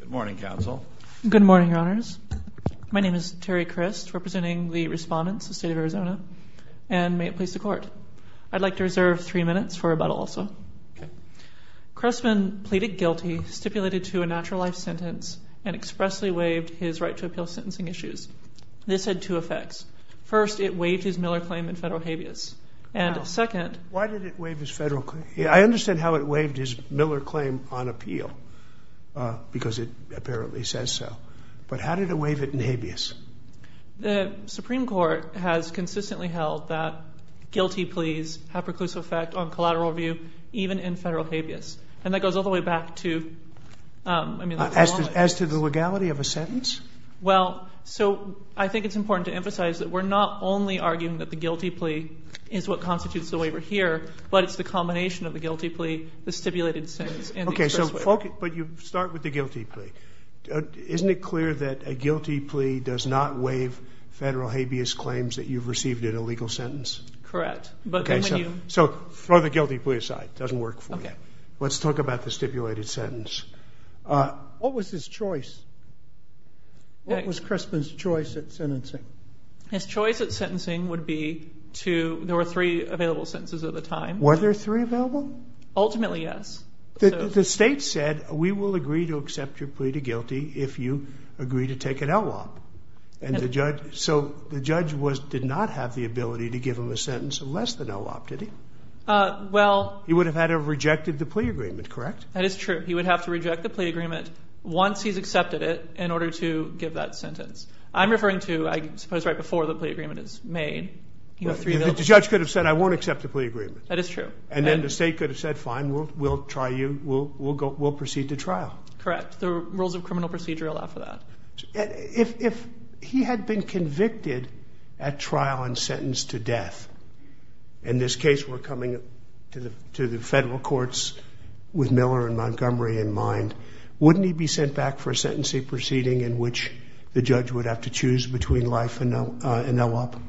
Good morning, Counsel. Good morning, Your Honors. My name is Terry Crist, representing the respondents of the State of Arizona, and may it please the Court. I'd like to reserve three minutes for rebuttal also. Okay. Crespin pleaded guilty, stipulated to a natural life sentence, and expressly waived his right to appeal sentencing issues. This had two effects. First, it waived his Miller claim in federal habeas. Why did it waive his federal claim? I understand how it waived his Miller claim on appeal, because it apparently says so. But how did it waive it in habeas? The Supreme Court has consistently held that guilty pleas have preclusive effect on collateral review, even in federal habeas. And that goes all the way back to... As to the legality of a sentence? Well, so I think it's important to emphasize that we're not only arguing that the guilty plea is what constitutes the waiver here, but it's the combination of the guilty plea, the stipulated sentence, and the express waiver. Okay, but you start with the guilty plea. Isn't it clear that a guilty plea does not waive federal habeas claims that you've received in a legal sentence? Correct. Okay, so throw the guilty plea aside. It doesn't work for you. Okay. Let's talk about the stipulated sentence. What was his choice? What was Crispin's choice at sentencing? His choice at sentencing would be to... There were three available sentences at the time. Were there three available? Ultimately, yes. The state said, we will agree to accept your plea to guilty if you agree to take an LWOP. So the judge did not have the ability to give him a sentence of less than LWOP, did he? Well... He would have had to have rejected the plea agreement, correct? That is true. He would have to reject the plea agreement once he's accepted it in order to give that sentence. I'm referring to, I suppose, right before the plea agreement is made. The judge could have said, I won't accept the plea agreement. That is true. And then the state could have said, fine, we'll try you, we'll proceed to trial. Correct. The rules of criminal procedure allow for that. If he had been convicted at trial and sentenced to death, in this case we're coming to the federal courts with Miller and Montgomery in mind, wouldn't he be sent back for a sentencing proceeding in which the judge would have to choose between life and LWOP?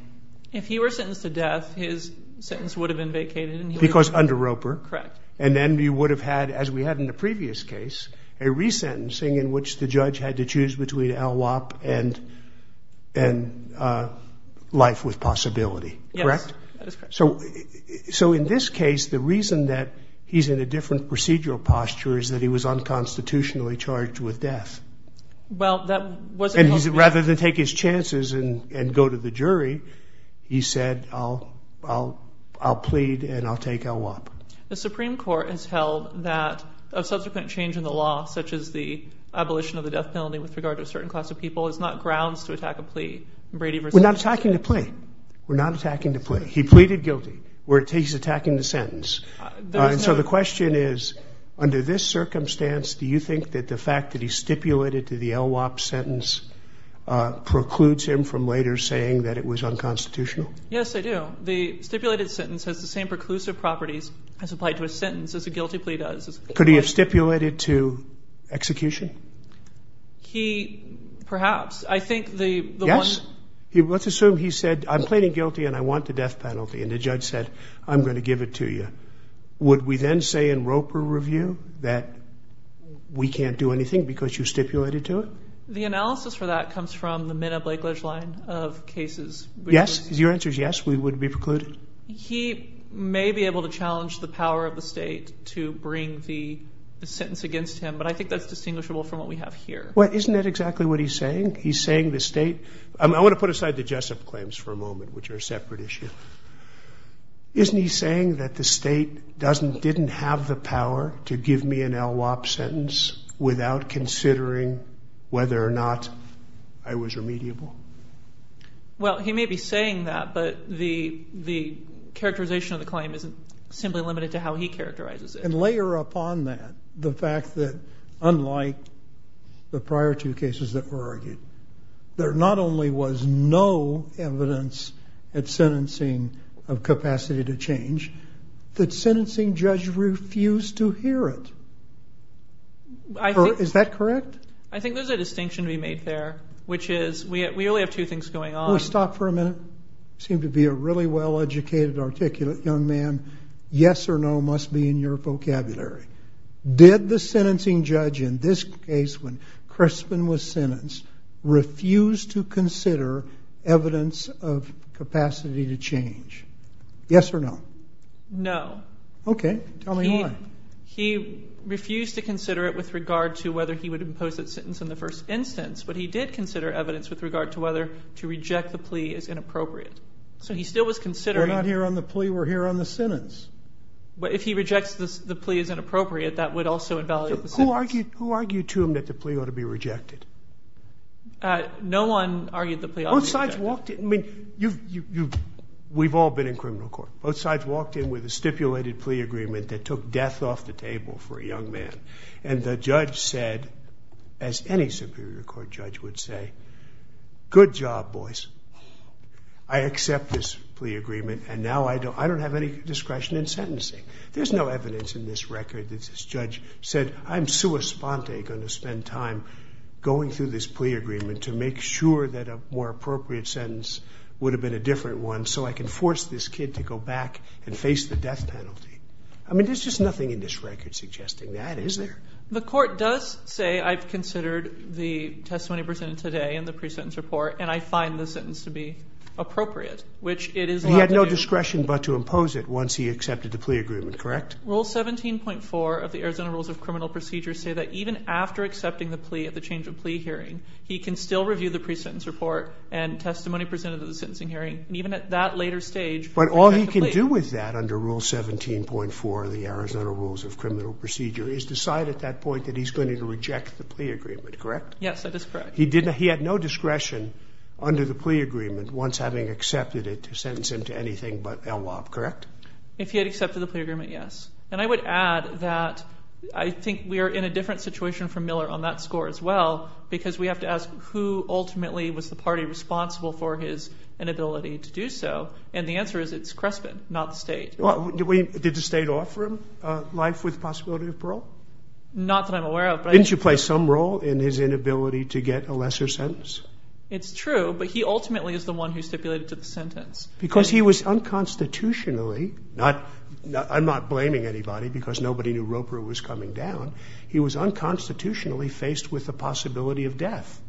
If he were sentenced to death, his sentence would have been vacated. Because under Roper. Correct. And then we would have had, as we had in the previous case, a resentencing in which the judge had to choose between LWOP and life with possibility. Correct? Yes, that is correct. So in this case, the reason that he's in a different procedural posture is that he was unconstitutionally charged with death. Well, that wasn't. Rather than take his chances and go to the jury, he said, I'll plead and I'll take LWOP. The Supreme Court has held that a subsequent change in the law, such as the abolition of the death penalty with regard to a certain class of people, is not grounds to attack a plea. We're not attacking a plea. We're not attacking the plea. He pleaded guilty. We're attacking the sentence. So the question is, under this circumstance, do you think that the fact that he stipulated to the LWOP sentence precludes him from later saying that it was unconstitutional? Yes, I do. The stipulated sentence has the same preclusive properties as applied to a sentence as a guilty plea does. Could he have stipulated to execution? He perhaps. I think the one. Yes. Let's assume he said, I'm pleading guilty and I want the death penalty, and the judge said, I'm going to give it to you. Would we then say in Roper review that we can't do anything because you stipulated to it? The analysis for that comes from the Minna-Blakeledge line of cases. Yes? If your answer is yes, we would be precluded? He may be able to challenge the power of the state to bring the sentence against him, but I think that's distinguishable from what we have here. Well, isn't that exactly what he's saying? He's saying the state. I want to put aside the Jessup claims for a moment, which are a separate issue. Isn't he saying that the state didn't have the power to give me an LWOP sentence without considering whether or not I was remediable? Well, he may be saying that, but the characterization of the claim isn't simply limited to how he characterizes it. And layer upon that the fact that unlike the prior two cases that were argued, there not only was no evidence at sentencing of capacity to change, the sentencing judge refused to hear it. Is that correct? I think there's a distinction to be made there, which is we only have two things going on. Will you stop for a minute? You seem to be a really well-educated, articulate young man. Yes or no must be in your vocabulary. Did the sentencing judge in this case when Crispin was sentenced refuse to consider evidence of capacity to change? Yes or no? No. Okay. Tell me why. He refused to consider it with regard to whether he would impose that sentence in the first instance, but he did consider evidence with regard to whether to reject the plea is inappropriate. So he still was considering. We're not here on the plea. We're here on the sentence. If he rejects the plea is inappropriate, that would also invalidate the sentence. Who argued to him that the plea ought to be rejected? No one argued the plea ought to be rejected. Both sides walked in. I mean, we've all been in criminal court. Both sides walked in with a stipulated plea agreement that took death off the table for a young man, and the judge said, as any superior court judge would say, good job, boys. I accept this plea agreement, and now I don't have any discretion in sentencing. There's no evidence in this record that this judge said, I'm sua sponte going to spend time going through this plea agreement to make sure that a more appropriate sentence would have been a different one so I can force this kid to go back and face the death penalty. I mean, there's just nothing in this record suggesting that, is there? The court does say I've considered the testimony presented today in the pre-sentence report, and I find the sentence to be appropriate. He had no discretion but to impose it once he accepted the plea agreement, correct? Rule 17.4 of the Arizona Rules of Criminal Procedure say that even after accepting the plea at the change of plea hearing, he can still review the pre-sentence report and testimony presented at the sentencing hearing, and even at that later stage, reject the plea. But all he can do with that under Rule 17.4 of the Arizona Rules of Criminal Procedure is decide at that point that he's going to reject the plea agreement, correct? Yes, that is correct. He had no discretion under the plea agreement once having accepted it to sentence him to anything but LWOP, correct? If he had accepted the plea agreement, yes. And I would add that I think we are in a different situation from Miller on that score as well because we have to ask who ultimately was the party responsible for his inability to do so, and the answer is it's Crespin, not the state. Did the state offer him life with the possibility of parole? Not that I'm aware of. Didn't you play some role in his inability to get a lesser sentence? It's true, but he ultimately is the one who stipulated to the sentence. Because he was unconstitutionally, I'm not blaming anybody because nobody knew Roper was coming down, he was unconstitutionally faced with the possibility of death.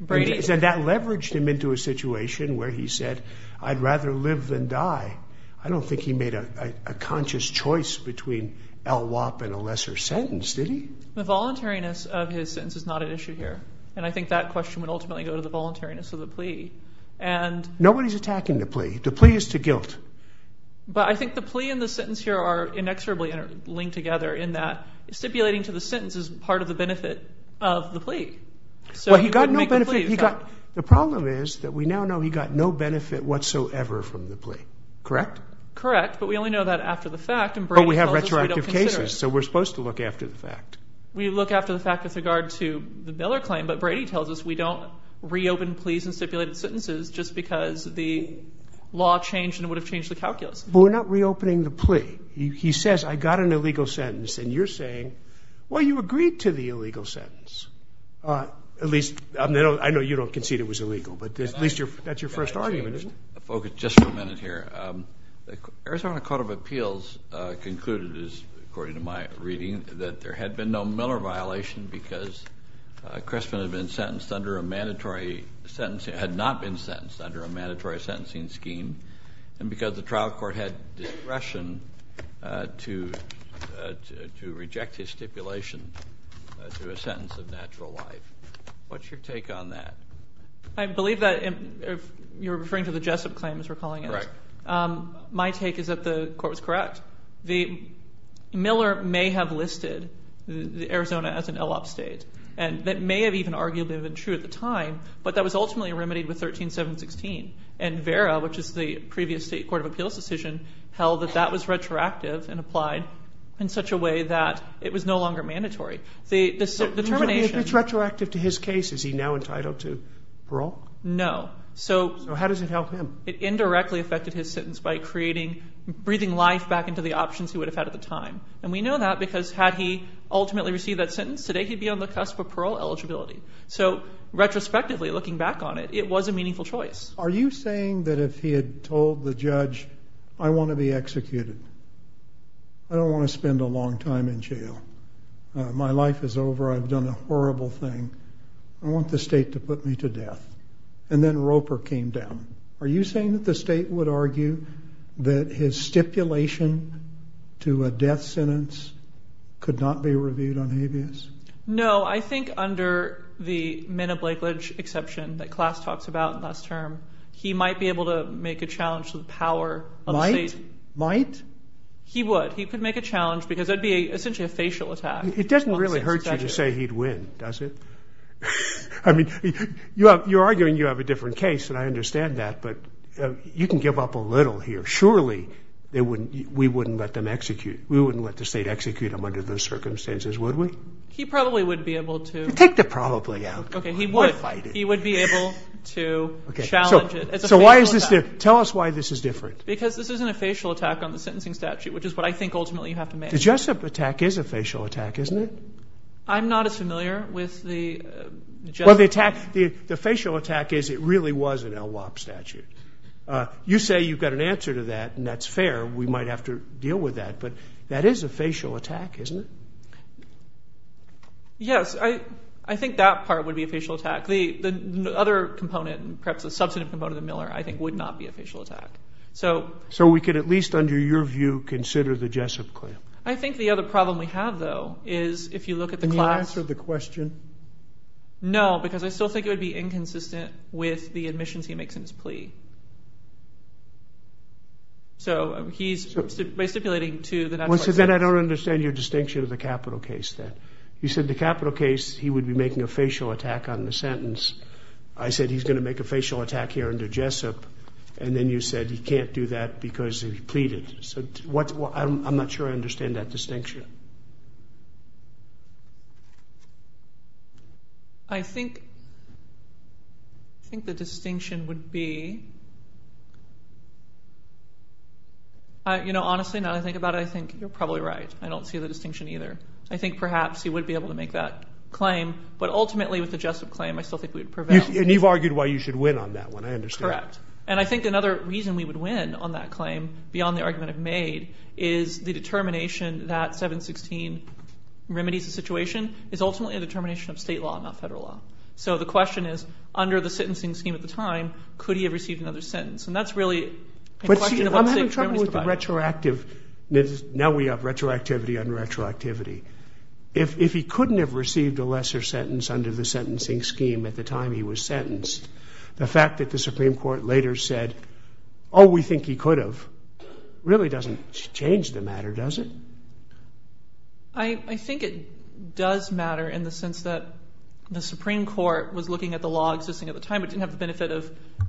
That leveraged him into a situation where he said, I'd rather live than die. I don't think he made a conscious choice between LWOP and a lesser sentence, did he? The voluntariness of his sentence is not at issue here, and I think that question would ultimately go to the voluntariness of the plea. Nobody is attacking the plea. The plea is to guilt. But I think the plea and the sentence here are inexorably linked together in that stipulating to the sentence is part of the benefit of the plea. Well, he got no benefit. The problem is that we now know he got no benefit whatsoever from the plea, correct? Correct, but we only know that after the fact. But we have retroactive cases, so we're supposed to look after the fact. We look after the fact with regard to the Miller claim, but Brady tells us we don't reopen pleas and stipulated sentences just because the law changed and it would have changed the calculus. But we're not reopening the plea. He says, I got an illegal sentence, and you're saying, well, you agreed to the illegal sentence. At least, I know you don't concede it was illegal, but at least that's your first argument, isn't it? I want to focus just for a minute here. The Arizona Court of Appeals concluded, according to my reading, that there had been no Miller violation because Cressman had not been sentenced under a mandatory sentencing scheme and because the trial court had discretion to reject his stipulation to a sentence of natural life. What's your take on that? I believe that you're referring to the Jessup claim, as we're calling it. My take is that the court was correct. Miller may have listed Arizona as an ELOP state. That may have even arguably been true at the time, but that was ultimately remedied with 13716, and Vera, which is the previous state court of appeals decision, held that that was retroactive and applied in such a way that it was no longer mandatory. If it's retroactive to his case, is he now entitled to parole? No. How does it help him? It indirectly affected his sentence by breathing life back into the options he would have had at the time. We know that because had he ultimately received that sentence, today he'd be on the cusp of parole eligibility. Retrospectively, looking back on it, it was a meaningful choice. Are you saying that if he had told the judge, I want to be executed. I don't want to spend a long time in jail. My life is over. I've done a horrible thing. I want the state to put me to death. And then Roper came down. Are you saying that the state would argue that his stipulation to a death sentence could not be reviewed on habeas? No. I think under the men of Blakeledge exception that Klaas talks about last term, he might be able to make a challenge to the power of the state. Might? He would. He could make a challenge because it would be essentially a facial attack. It doesn't really hurt you to say he'd win, does it? I mean, you're arguing you have a different case, and I understand that, but you can give up a little here. Surely we wouldn't let the state execute him under those circumstances, would we? He probably would be able to. Take the probably out. We'll fight it. He would be able to challenge it. So why is this different? Tell us why this is different. Because this isn't a facial attack on the sentencing statute, which is what I think ultimately you have to manage. The Jessup attack is a facial attack, isn't it? I'm not as familiar with the Jessup. Well, the facial attack is it really was an LWOP statute. You say you've got an answer to that, and that's fair. We might have to deal with that, but that is a facial attack, isn't it? Yes, I think that part would be a facial attack. The other component, perhaps a substantive component of the Miller, I think would not be a facial attack. So we could at least, under your view, consider the Jessup claim. I think the other problem we have, though, is if you look at the class. Can you answer the question? No, because I still think it would be inconsistent with the admissions he makes in his plea. So he's stipulating to the National Archives. Well, so then I don't understand your distinction of the capital case then. You said the capital case, he would be making a facial attack on the sentence. I said he's going to make a facial attack here under Jessup, and then you said he can't do that because he pleaded. So I'm not sure I understand that distinction. I think the distinction would be, you know, honestly, now that I think about it, I think you're probably right. I don't see the distinction either. I think perhaps he would be able to make that claim, but ultimately with the Jessup claim, I still think we would prevail. And you've argued why you should win on that one. I understand. Correct. And I think another reason we would win on that claim, beyond the argument I've made, is the determination that 716 remedies the situation is ultimately a determination of state law, not federal law. So the question is, under the sentencing scheme at the time, could he have received another sentence? And that's really a question of what the state remedies provide. Now we have retroactivity on retroactivity. If he couldn't have received a lesser sentence under the sentencing scheme at the time he was sentenced, the fact that the Supreme Court later said, oh, we think he could have, really doesn't change the matter, does it? I think it does matter in the sense that the Supreme Court was looking at the law existing at the time but didn't have the benefit of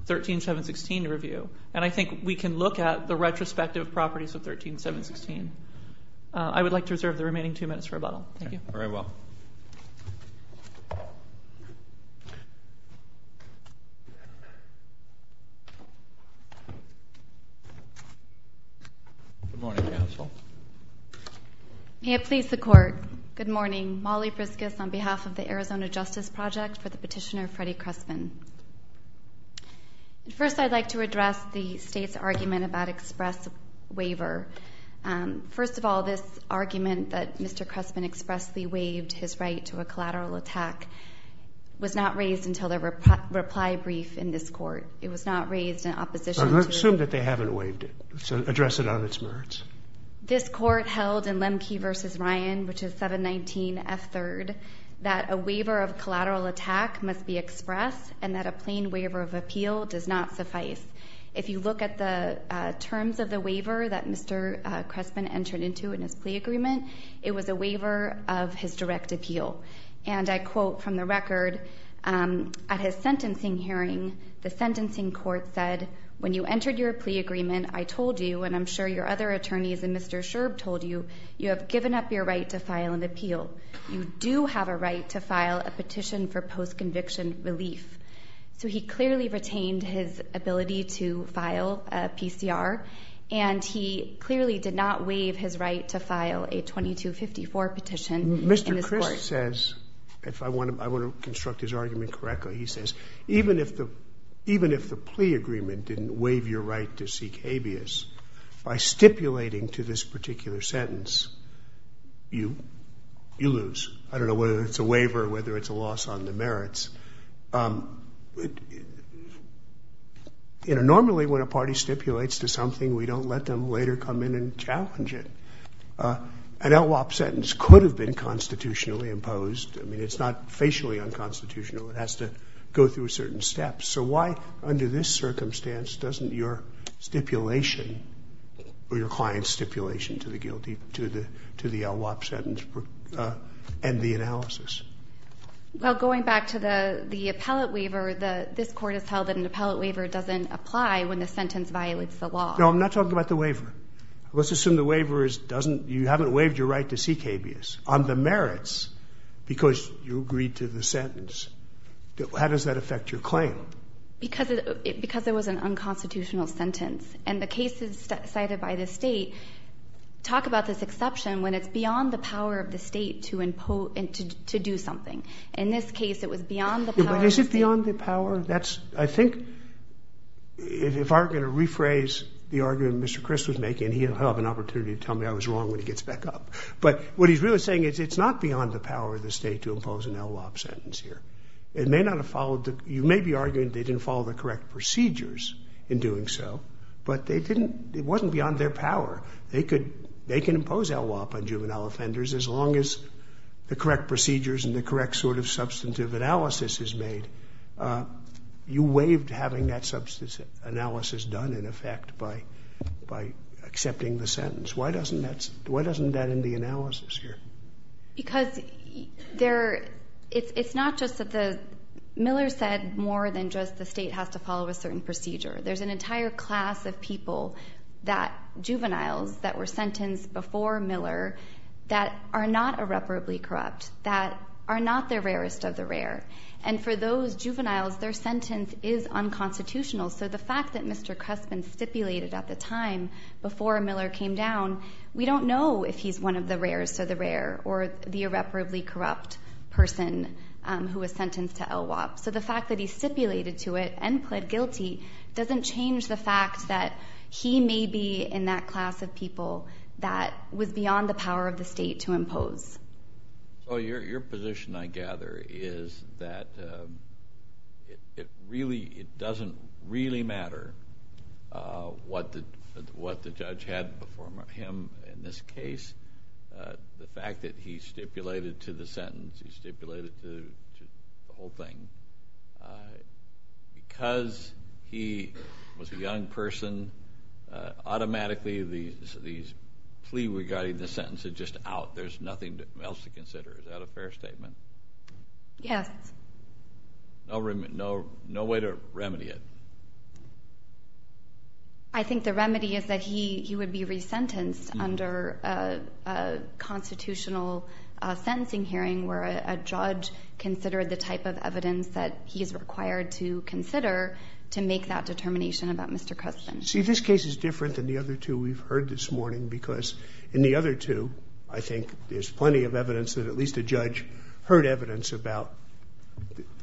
13716 review. And I think we can look at the retrospective properties of 13716. I would like to reserve the remaining two minutes for rebuttal. Thank you. Good morning, counsel. May it please the Court. Good morning. Molly Briscus on behalf of the Arizona Justice Project for the petitioner Freddie Crespin. First, I'd like to address the state's argument about express waiver. First of all, this argument that Mr. Crespin expressly waived his right to a collateral attack was not raised until the reply brief in this Court. It was not raised in opposition to it. Let's assume that they haven't waived it. So address it on its merits. This Court held in Lemke v. Ryan, which is 719F3rd, that a waiver of collateral attack must be expressed and that a plain waiver of appeal does not suffice. If you look at the terms of the waiver that Mr. Crespin entered into in his plea agreement, it was a waiver of his direct appeal. And I quote from the record, at his sentencing hearing, the sentencing court said, when you entered your plea agreement, I told you, and I'm sure your other attorneys and Mr. Sherb told you, you have given up your right to file an appeal. You do have a right to file a petition for post-conviction relief. So he clearly retained his ability to file a PCR, and he clearly did not waive his right to file a 2254 petition in this Court. Mr. Crespin says, if I want to construct his argument correctly, he says, even if the plea agreement didn't waive your right to seek habeas, by stipulating to this particular sentence, you lose. I don't know whether it's a waiver or whether it's a loss on the merits. You know, normally when a party stipulates to something, we don't let them later come in and challenge it. An LWOP sentence could have been constitutionally imposed. I mean, it's not facially unconstitutional. It has to go through certain steps. So why, under this circumstance, doesn't your stipulation or your client's stipulation to the LWOP sentence end the analysis? Well, going back to the appellate waiver, this Court has held that an appellate waiver doesn't apply when the sentence violates the law. No, I'm not talking about the waiver. Let's assume the waiver doesn't – you haven't waived your right to seek habeas on the merits because you agreed to the sentence. How does that affect your claim? Because it was an unconstitutional sentence. And the cases cited by the State talk about this exception when it's beyond the power of the State to do something. In this case, it was beyond the power of the State. But is it beyond the power? I think if I were going to rephrase the argument Mr. Chris was making, he'll have an opportunity to tell me I was wrong when he gets back up. But what he's really saying is it's not beyond the power of the State to impose an LWOP sentence here. It may not have followed the – you may be arguing they didn't follow the correct procedures in doing so, but they didn't – it wasn't beyond their power. They can impose LWOP on juvenile offenders as long as the correct procedures and the correct sort of substantive analysis is made. You waived having that substantive analysis done, in effect, by accepting the sentence. Why doesn't that end the analysis here? Because there – it's not just that the – Miller said more than just the State has to follow a certain procedure. There's an entire class of people that – juveniles that were sentenced before Miller that are not irreparably corrupt, that are not the rarest of the rare. And for those juveniles, their sentence is unconstitutional. So the fact that Mr. Crespin stipulated at the time, before Miller came down, we don't know if he's one of the rarest of the rare or the irreparably corrupt person who was sentenced to LWOP. So the fact that he stipulated to it and pled guilty doesn't change the fact that he may be in that class of people that was beyond the power of the State to impose. So your position, I gather, is that it really – what the judge had before him in this case, the fact that he stipulated to the sentence, he stipulated to the whole thing, because he was a young person, automatically the plea regarding the sentence is just out. There's nothing else to consider. Is that a fair statement? Yes. No way to remedy it. I think the remedy is that he would be resentenced under a constitutional sentencing hearing where a judge considered the type of evidence that he is required to consider to make that determination about Mr. Crespin. See, this case is different than the other two we've heard this morning because in the other two, I think there's plenty of evidence that at least a judge heard evidence about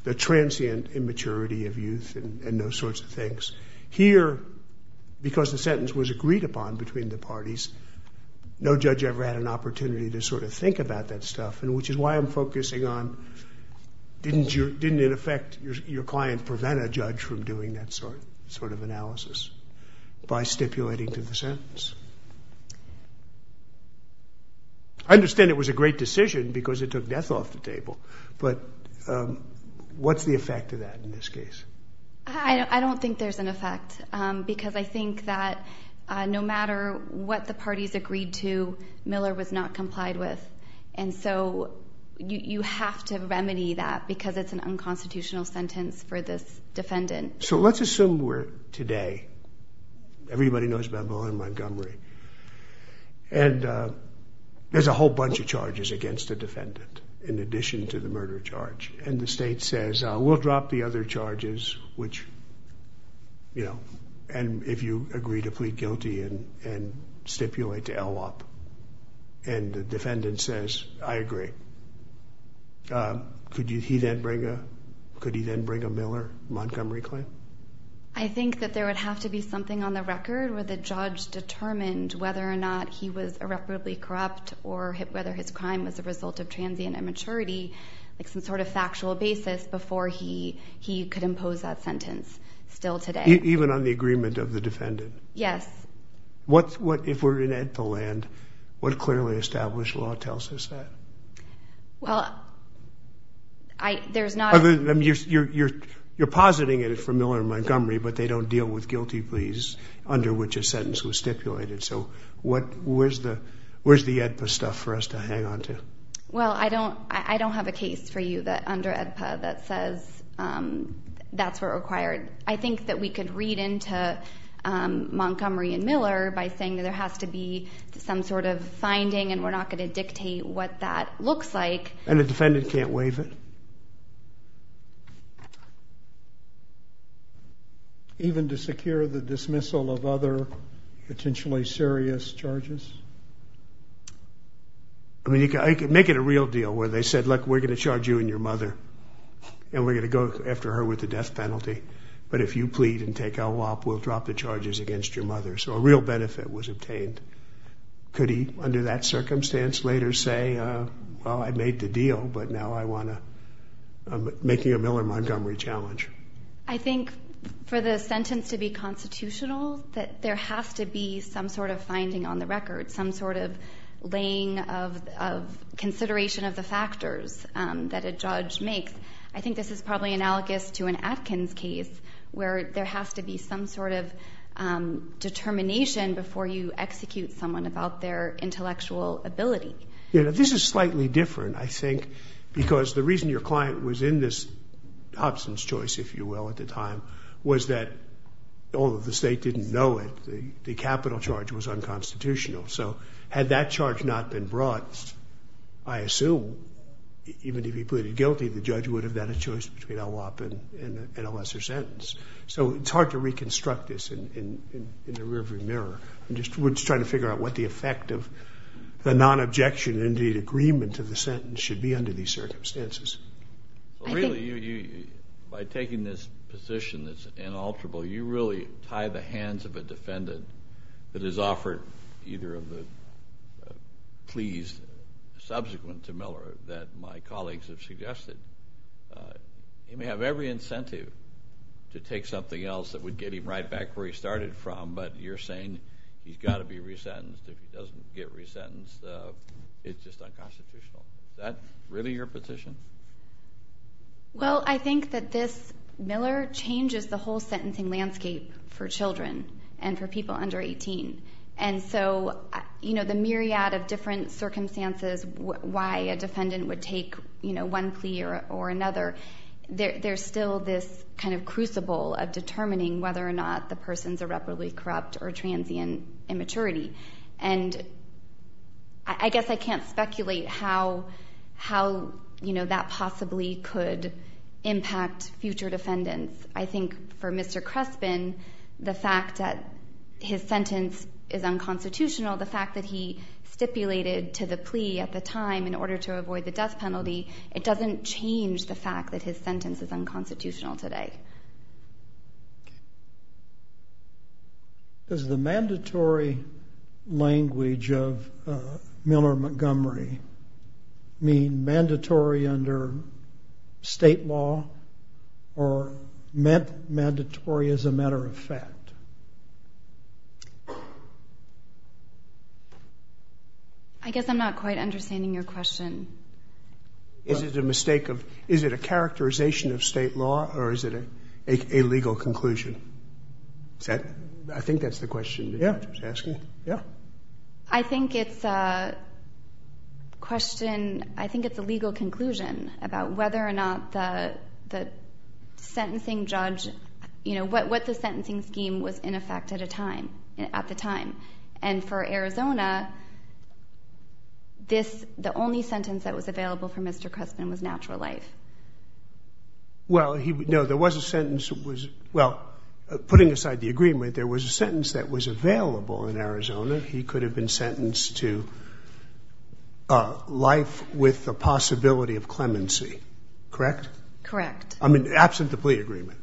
the transient immaturity of youth and those sorts of things. Here, because the sentence was agreed upon between the parties, no judge ever had an opportunity to sort of think about that stuff, which is why I'm focusing on didn't, in effect, your client prevent a judge from doing that sort of analysis by stipulating to the sentence? I understand it was a great decision because it took death off the table, but what's the effect of that in this case? I don't think there's an effect because I think that no matter what the parties agreed to, Miller was not complied with, and so you have to remedy that because it's an unconstitutional sentence for this defendant. So let's assume we're today. Everybody knows about Muller and Montgomery. And there's a whole bunch of charges against the defendant in addition to the murder charge, and the state says, we'll drop the other charges, which, you know, and if you agree to plead guilty and stipulate to LWOP, and the defendant says, I agree, could he then bring a Miller-Montgomery claim? I think that there would have to be something on the record where the judge determined whether or not he was irreparably corrupt or whether his crime was a result of transient immaturity, like some sort of factual basis before he could impose that sentence still today. Even on the agreement of the defendant? Yes. What, if we're in EDPA land, what clearly established law tells us that? Well, there's not... You're positing it is for Miller and Montgomery, but they don't deal with guilty pleas under which a sentence was stipulated. So where's the EDPA stuff for us to hang on to? Well, I don't have a case for you under EDPA that says that's what's required. I think that we could read into Montgomery and Miller by saying that there has to be some sort of finding and we're not going to dictate what that looks like. And the defendant can't waive it? Even to secure the dismissal of other potentially serious charges? I mean, make it a real deal where they said, look, we're going to charge you and your mother and we're going to go after her with the death penalty, but if you plead and take a lop, we'll drop the charges against your mother. So a real benefit was obtained. Could he, under that circumstance, later say, well, I made the deal, but now I want to... I'm making a Miller-Montgomery challenge. I think for the sentence to be constitutional, that there has to be some sort of finding on the record, some sort of laying of consideration of the factors that a judge makes. I think this is probably analogous to an Atkins case where there has to be some sort of determination before you execute someone about their intellectual ability. This is slightly different, I think, because the reason your client was in this absence choice at the time was that, although the state didn't know it, the capital charge was unconstitutional. So had that charge not been brought, I assume, even if he pleaded guilty, the judge would have had a choice between a lop and a lesser sentence. So it's hard to reconstruct this in the rear-view mirror. We're just trying to figure out what the effect of the non-objection and, indeed, agreement of the sentence should be under these circumstances. Really, by taking this position that's inalterable, you really tie the hands of a defendant that has offered either of the pleas subsequent to Miller that my colleagues have suggested. He may have every incentive to take something else that would get him right back where he started from, but you're saying he's got to be resentenced. If he doesn't get resentenced, it's just unconstitutional. Is that really your position? Well, I think that this Miller changes the whole sentencing landscape for children and for people under 18. And so the myriad of different circumstances why a defendant would take one plea or another, there's still this kind of crucible of determining whether or not the person's irreparably corrupt or transient in maturity. And I guess I can't speculate how that possibly could impact future defendants. I think for Mr. Crespin, the fact that his sentence is unconstitutional, the fact that he stipulated to the plea at the time in order to avoid the death penalty, it doesn't change the fact that his sentence is unconstitutional today. Does the mandatory language of Miller Montgomery mean mandatory under state law or mandatory as a matter of fact? I guess I'm not quite understanding your question. Is it a mistake of... Is it a characterization of state law or is it a legal conclusion? I think that's the question the judge was asking. Yeah. I think it's a question... I think it's a legal conclusion about whether or not the sentencing judge... You know, what the sentencing scheme was in effect at the time. And for Arizona, the only sentence that was available for Mr. Crespin was natural life. Well, no, there was a sentence that was... Well, putting aside the agreement, there was a sentence that was available in Arizona. He could have been sentenced to life with the possibility of clemency. Correct? Correct. I mean, absent the plea agreement.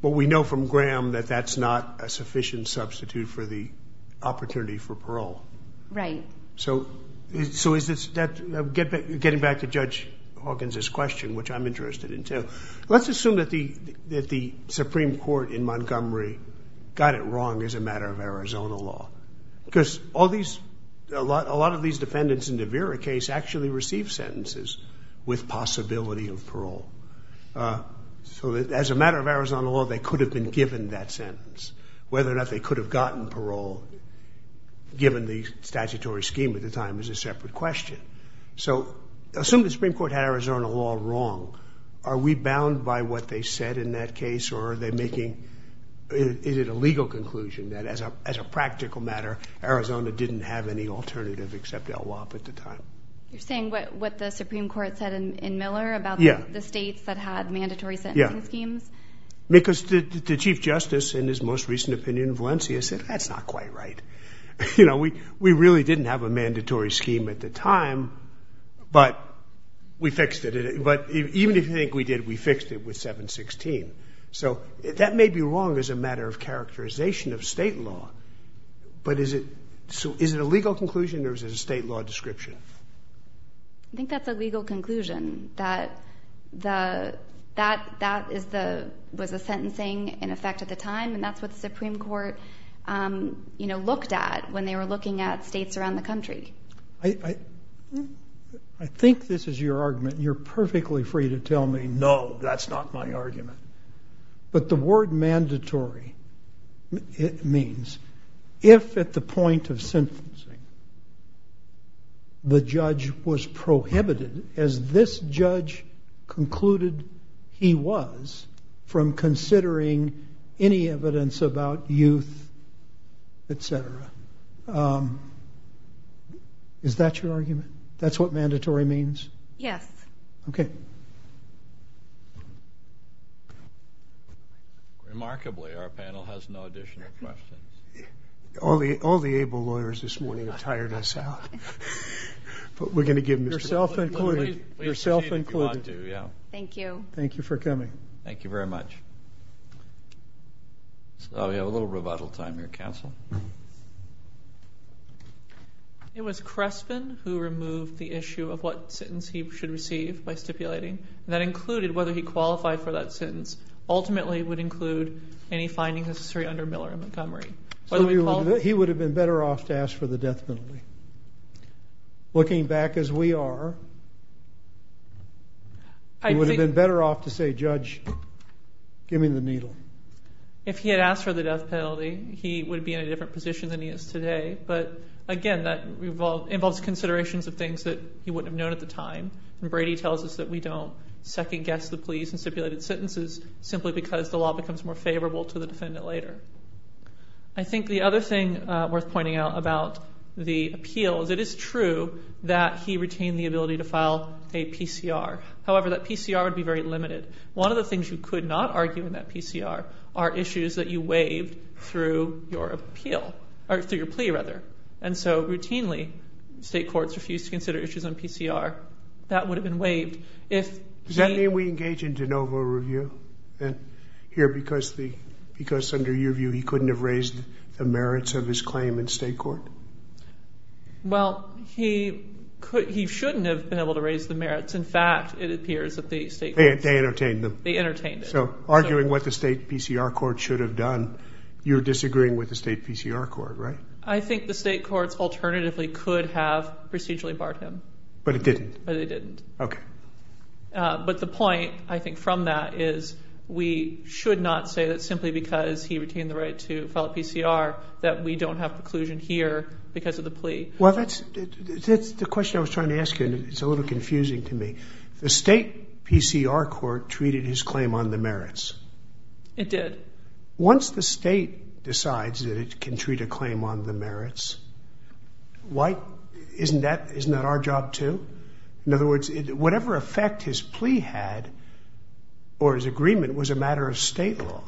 But we know from Graham that that's not a sufficient substitute for the opportunity for parole. Right. So is this... Getting back to Judge Hawkins' question, which I'm interested in too, let's assume that the Supreme Court in Montgomery got it wrong as a matter of Arizona law. Because all these... A lot of these defendants in the Vera case actually received sentences with possibility of parole. So as a matter of Arizona law, they could have been given that sentence. Whether or not they could have gotten parole given the statutory scheme at the time is a separate question. So assume the Supreme Court had Arizona law wrong. Are we bound by what they said in that case? Or are they making... Is it a legal conclusion that as a practical matter, Arizona didn't have any alternative except El Wap at the time? You're saying what the Supreme Court said in Miller about the states that had mandatory sentencing schemes? Because the Chief Justice, in his most recent opinion in Valencia, said that's not quite right. You know, we really didn't have a mandatory scheme at the time, but we fixed it. But even if you think we did, we fixed it with 716. So that may be wrong as a matter of characterization of state law, but is it a legal conclusion or is it a state law description? I think that's a legal conclusion, that that was the sentencing in effect at the time, and that's what the Supreme Court looked at when they were looking at states around the country. I think this is your argument. You're perfectly free to tell me, no, that's not my argument. But the word mandatory, it means if at the point of sentencing the judge was prohibited, as this judge concluded he was, from considering any evidence about youth, et cetera. Is that your argument? That's what mandatory means? Yes. Okay. Remarkably, our panel has no additional questions. All the able lawyers this morning have tired us out. But we're going to give them to you. Yourself included. Thank you. Thank you for coming. Thank you very much. We have a little rebuttal time here, counsel. It was Crespin who removed the issue of what sentence he should receive by stipulating. That included whether he qualified for that sentence. Ultimately, it would include any findings necessary under Miller and Montgomery. He would have been better off to ask for the death penalty. Looking back as we are, he would have been better off to say, judge, give me the needle. If he had asked for the death penalty, he would be in a different position than he is today. But again, that involves considerations of things that he wouldn't have known at the time. And Brady tells us that we don't second-guess the pleas and stipulated sentences simply because the law becomes more favorable to the defendant later. I think the other thing worth pointing out about the appeal is it is true that he retained the ability to file a PCR. However, that PCR would be very limited. One of the things you could not argue in that PCR are issues that you waived through your appeal, or through your plea, rather. And so routinely, state courts refuse to consider issues on PCR. That would have been waived if the... Does that mean we engage in de novo review here because under your view he couldn't have raised the merits of his claim in state court? Well, he shouldn't have been able to raise the merits. In fact, it appears that the state courts... They entertained him. They entertained him. So arguing what the state PCR court should have done, you're disagreeing with the state PCR court, right? I think the state courts alternatively could have procedurally barred him. But it didn't? But it didn't. Okay. But the point, I think, from that is we should not say that simply because he retained the right to file a PCR that we don't have preclusion here because of the plea. Well, that's the question I was trying to ask you, and it's a little confusing to me. The state PCR court treated his claim on the merits. It did. Once the state decides that it can treat a claim on the merits, isn't that our job too? In other words, whatever effect his plea had or his agreement was a matter of state law.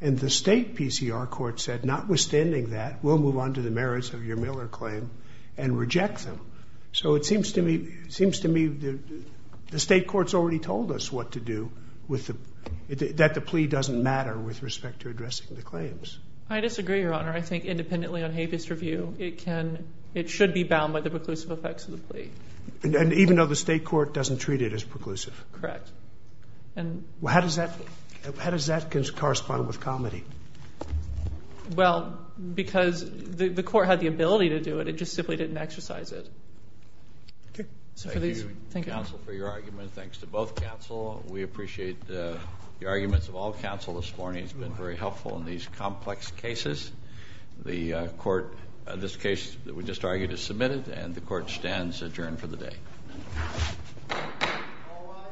And the state PCR court said, notwithstanding that, we'll move on to the merits of your Miller claim and reject them. So it seems to me the state courts already told us what to do, that the plea doesn't matter with respect to addressing the claims. I disagree, Your Honor. I think independently on habeas review, it should be bound by the preclusive effects of the plea. Even though the state court doesn't treat it as preclusive? Correct. Well, how does that correspond with comity? Well, because the court had the ability to do it. It just simply didn't exercise it. Thank you, counsel, for your argument. Thanks to both counsel. We appreciate the arguments of all counsel this morning. It's been very helpful in these complex cases. This case that we just argued is submitted, and the court stands adjourned for the day. All rise.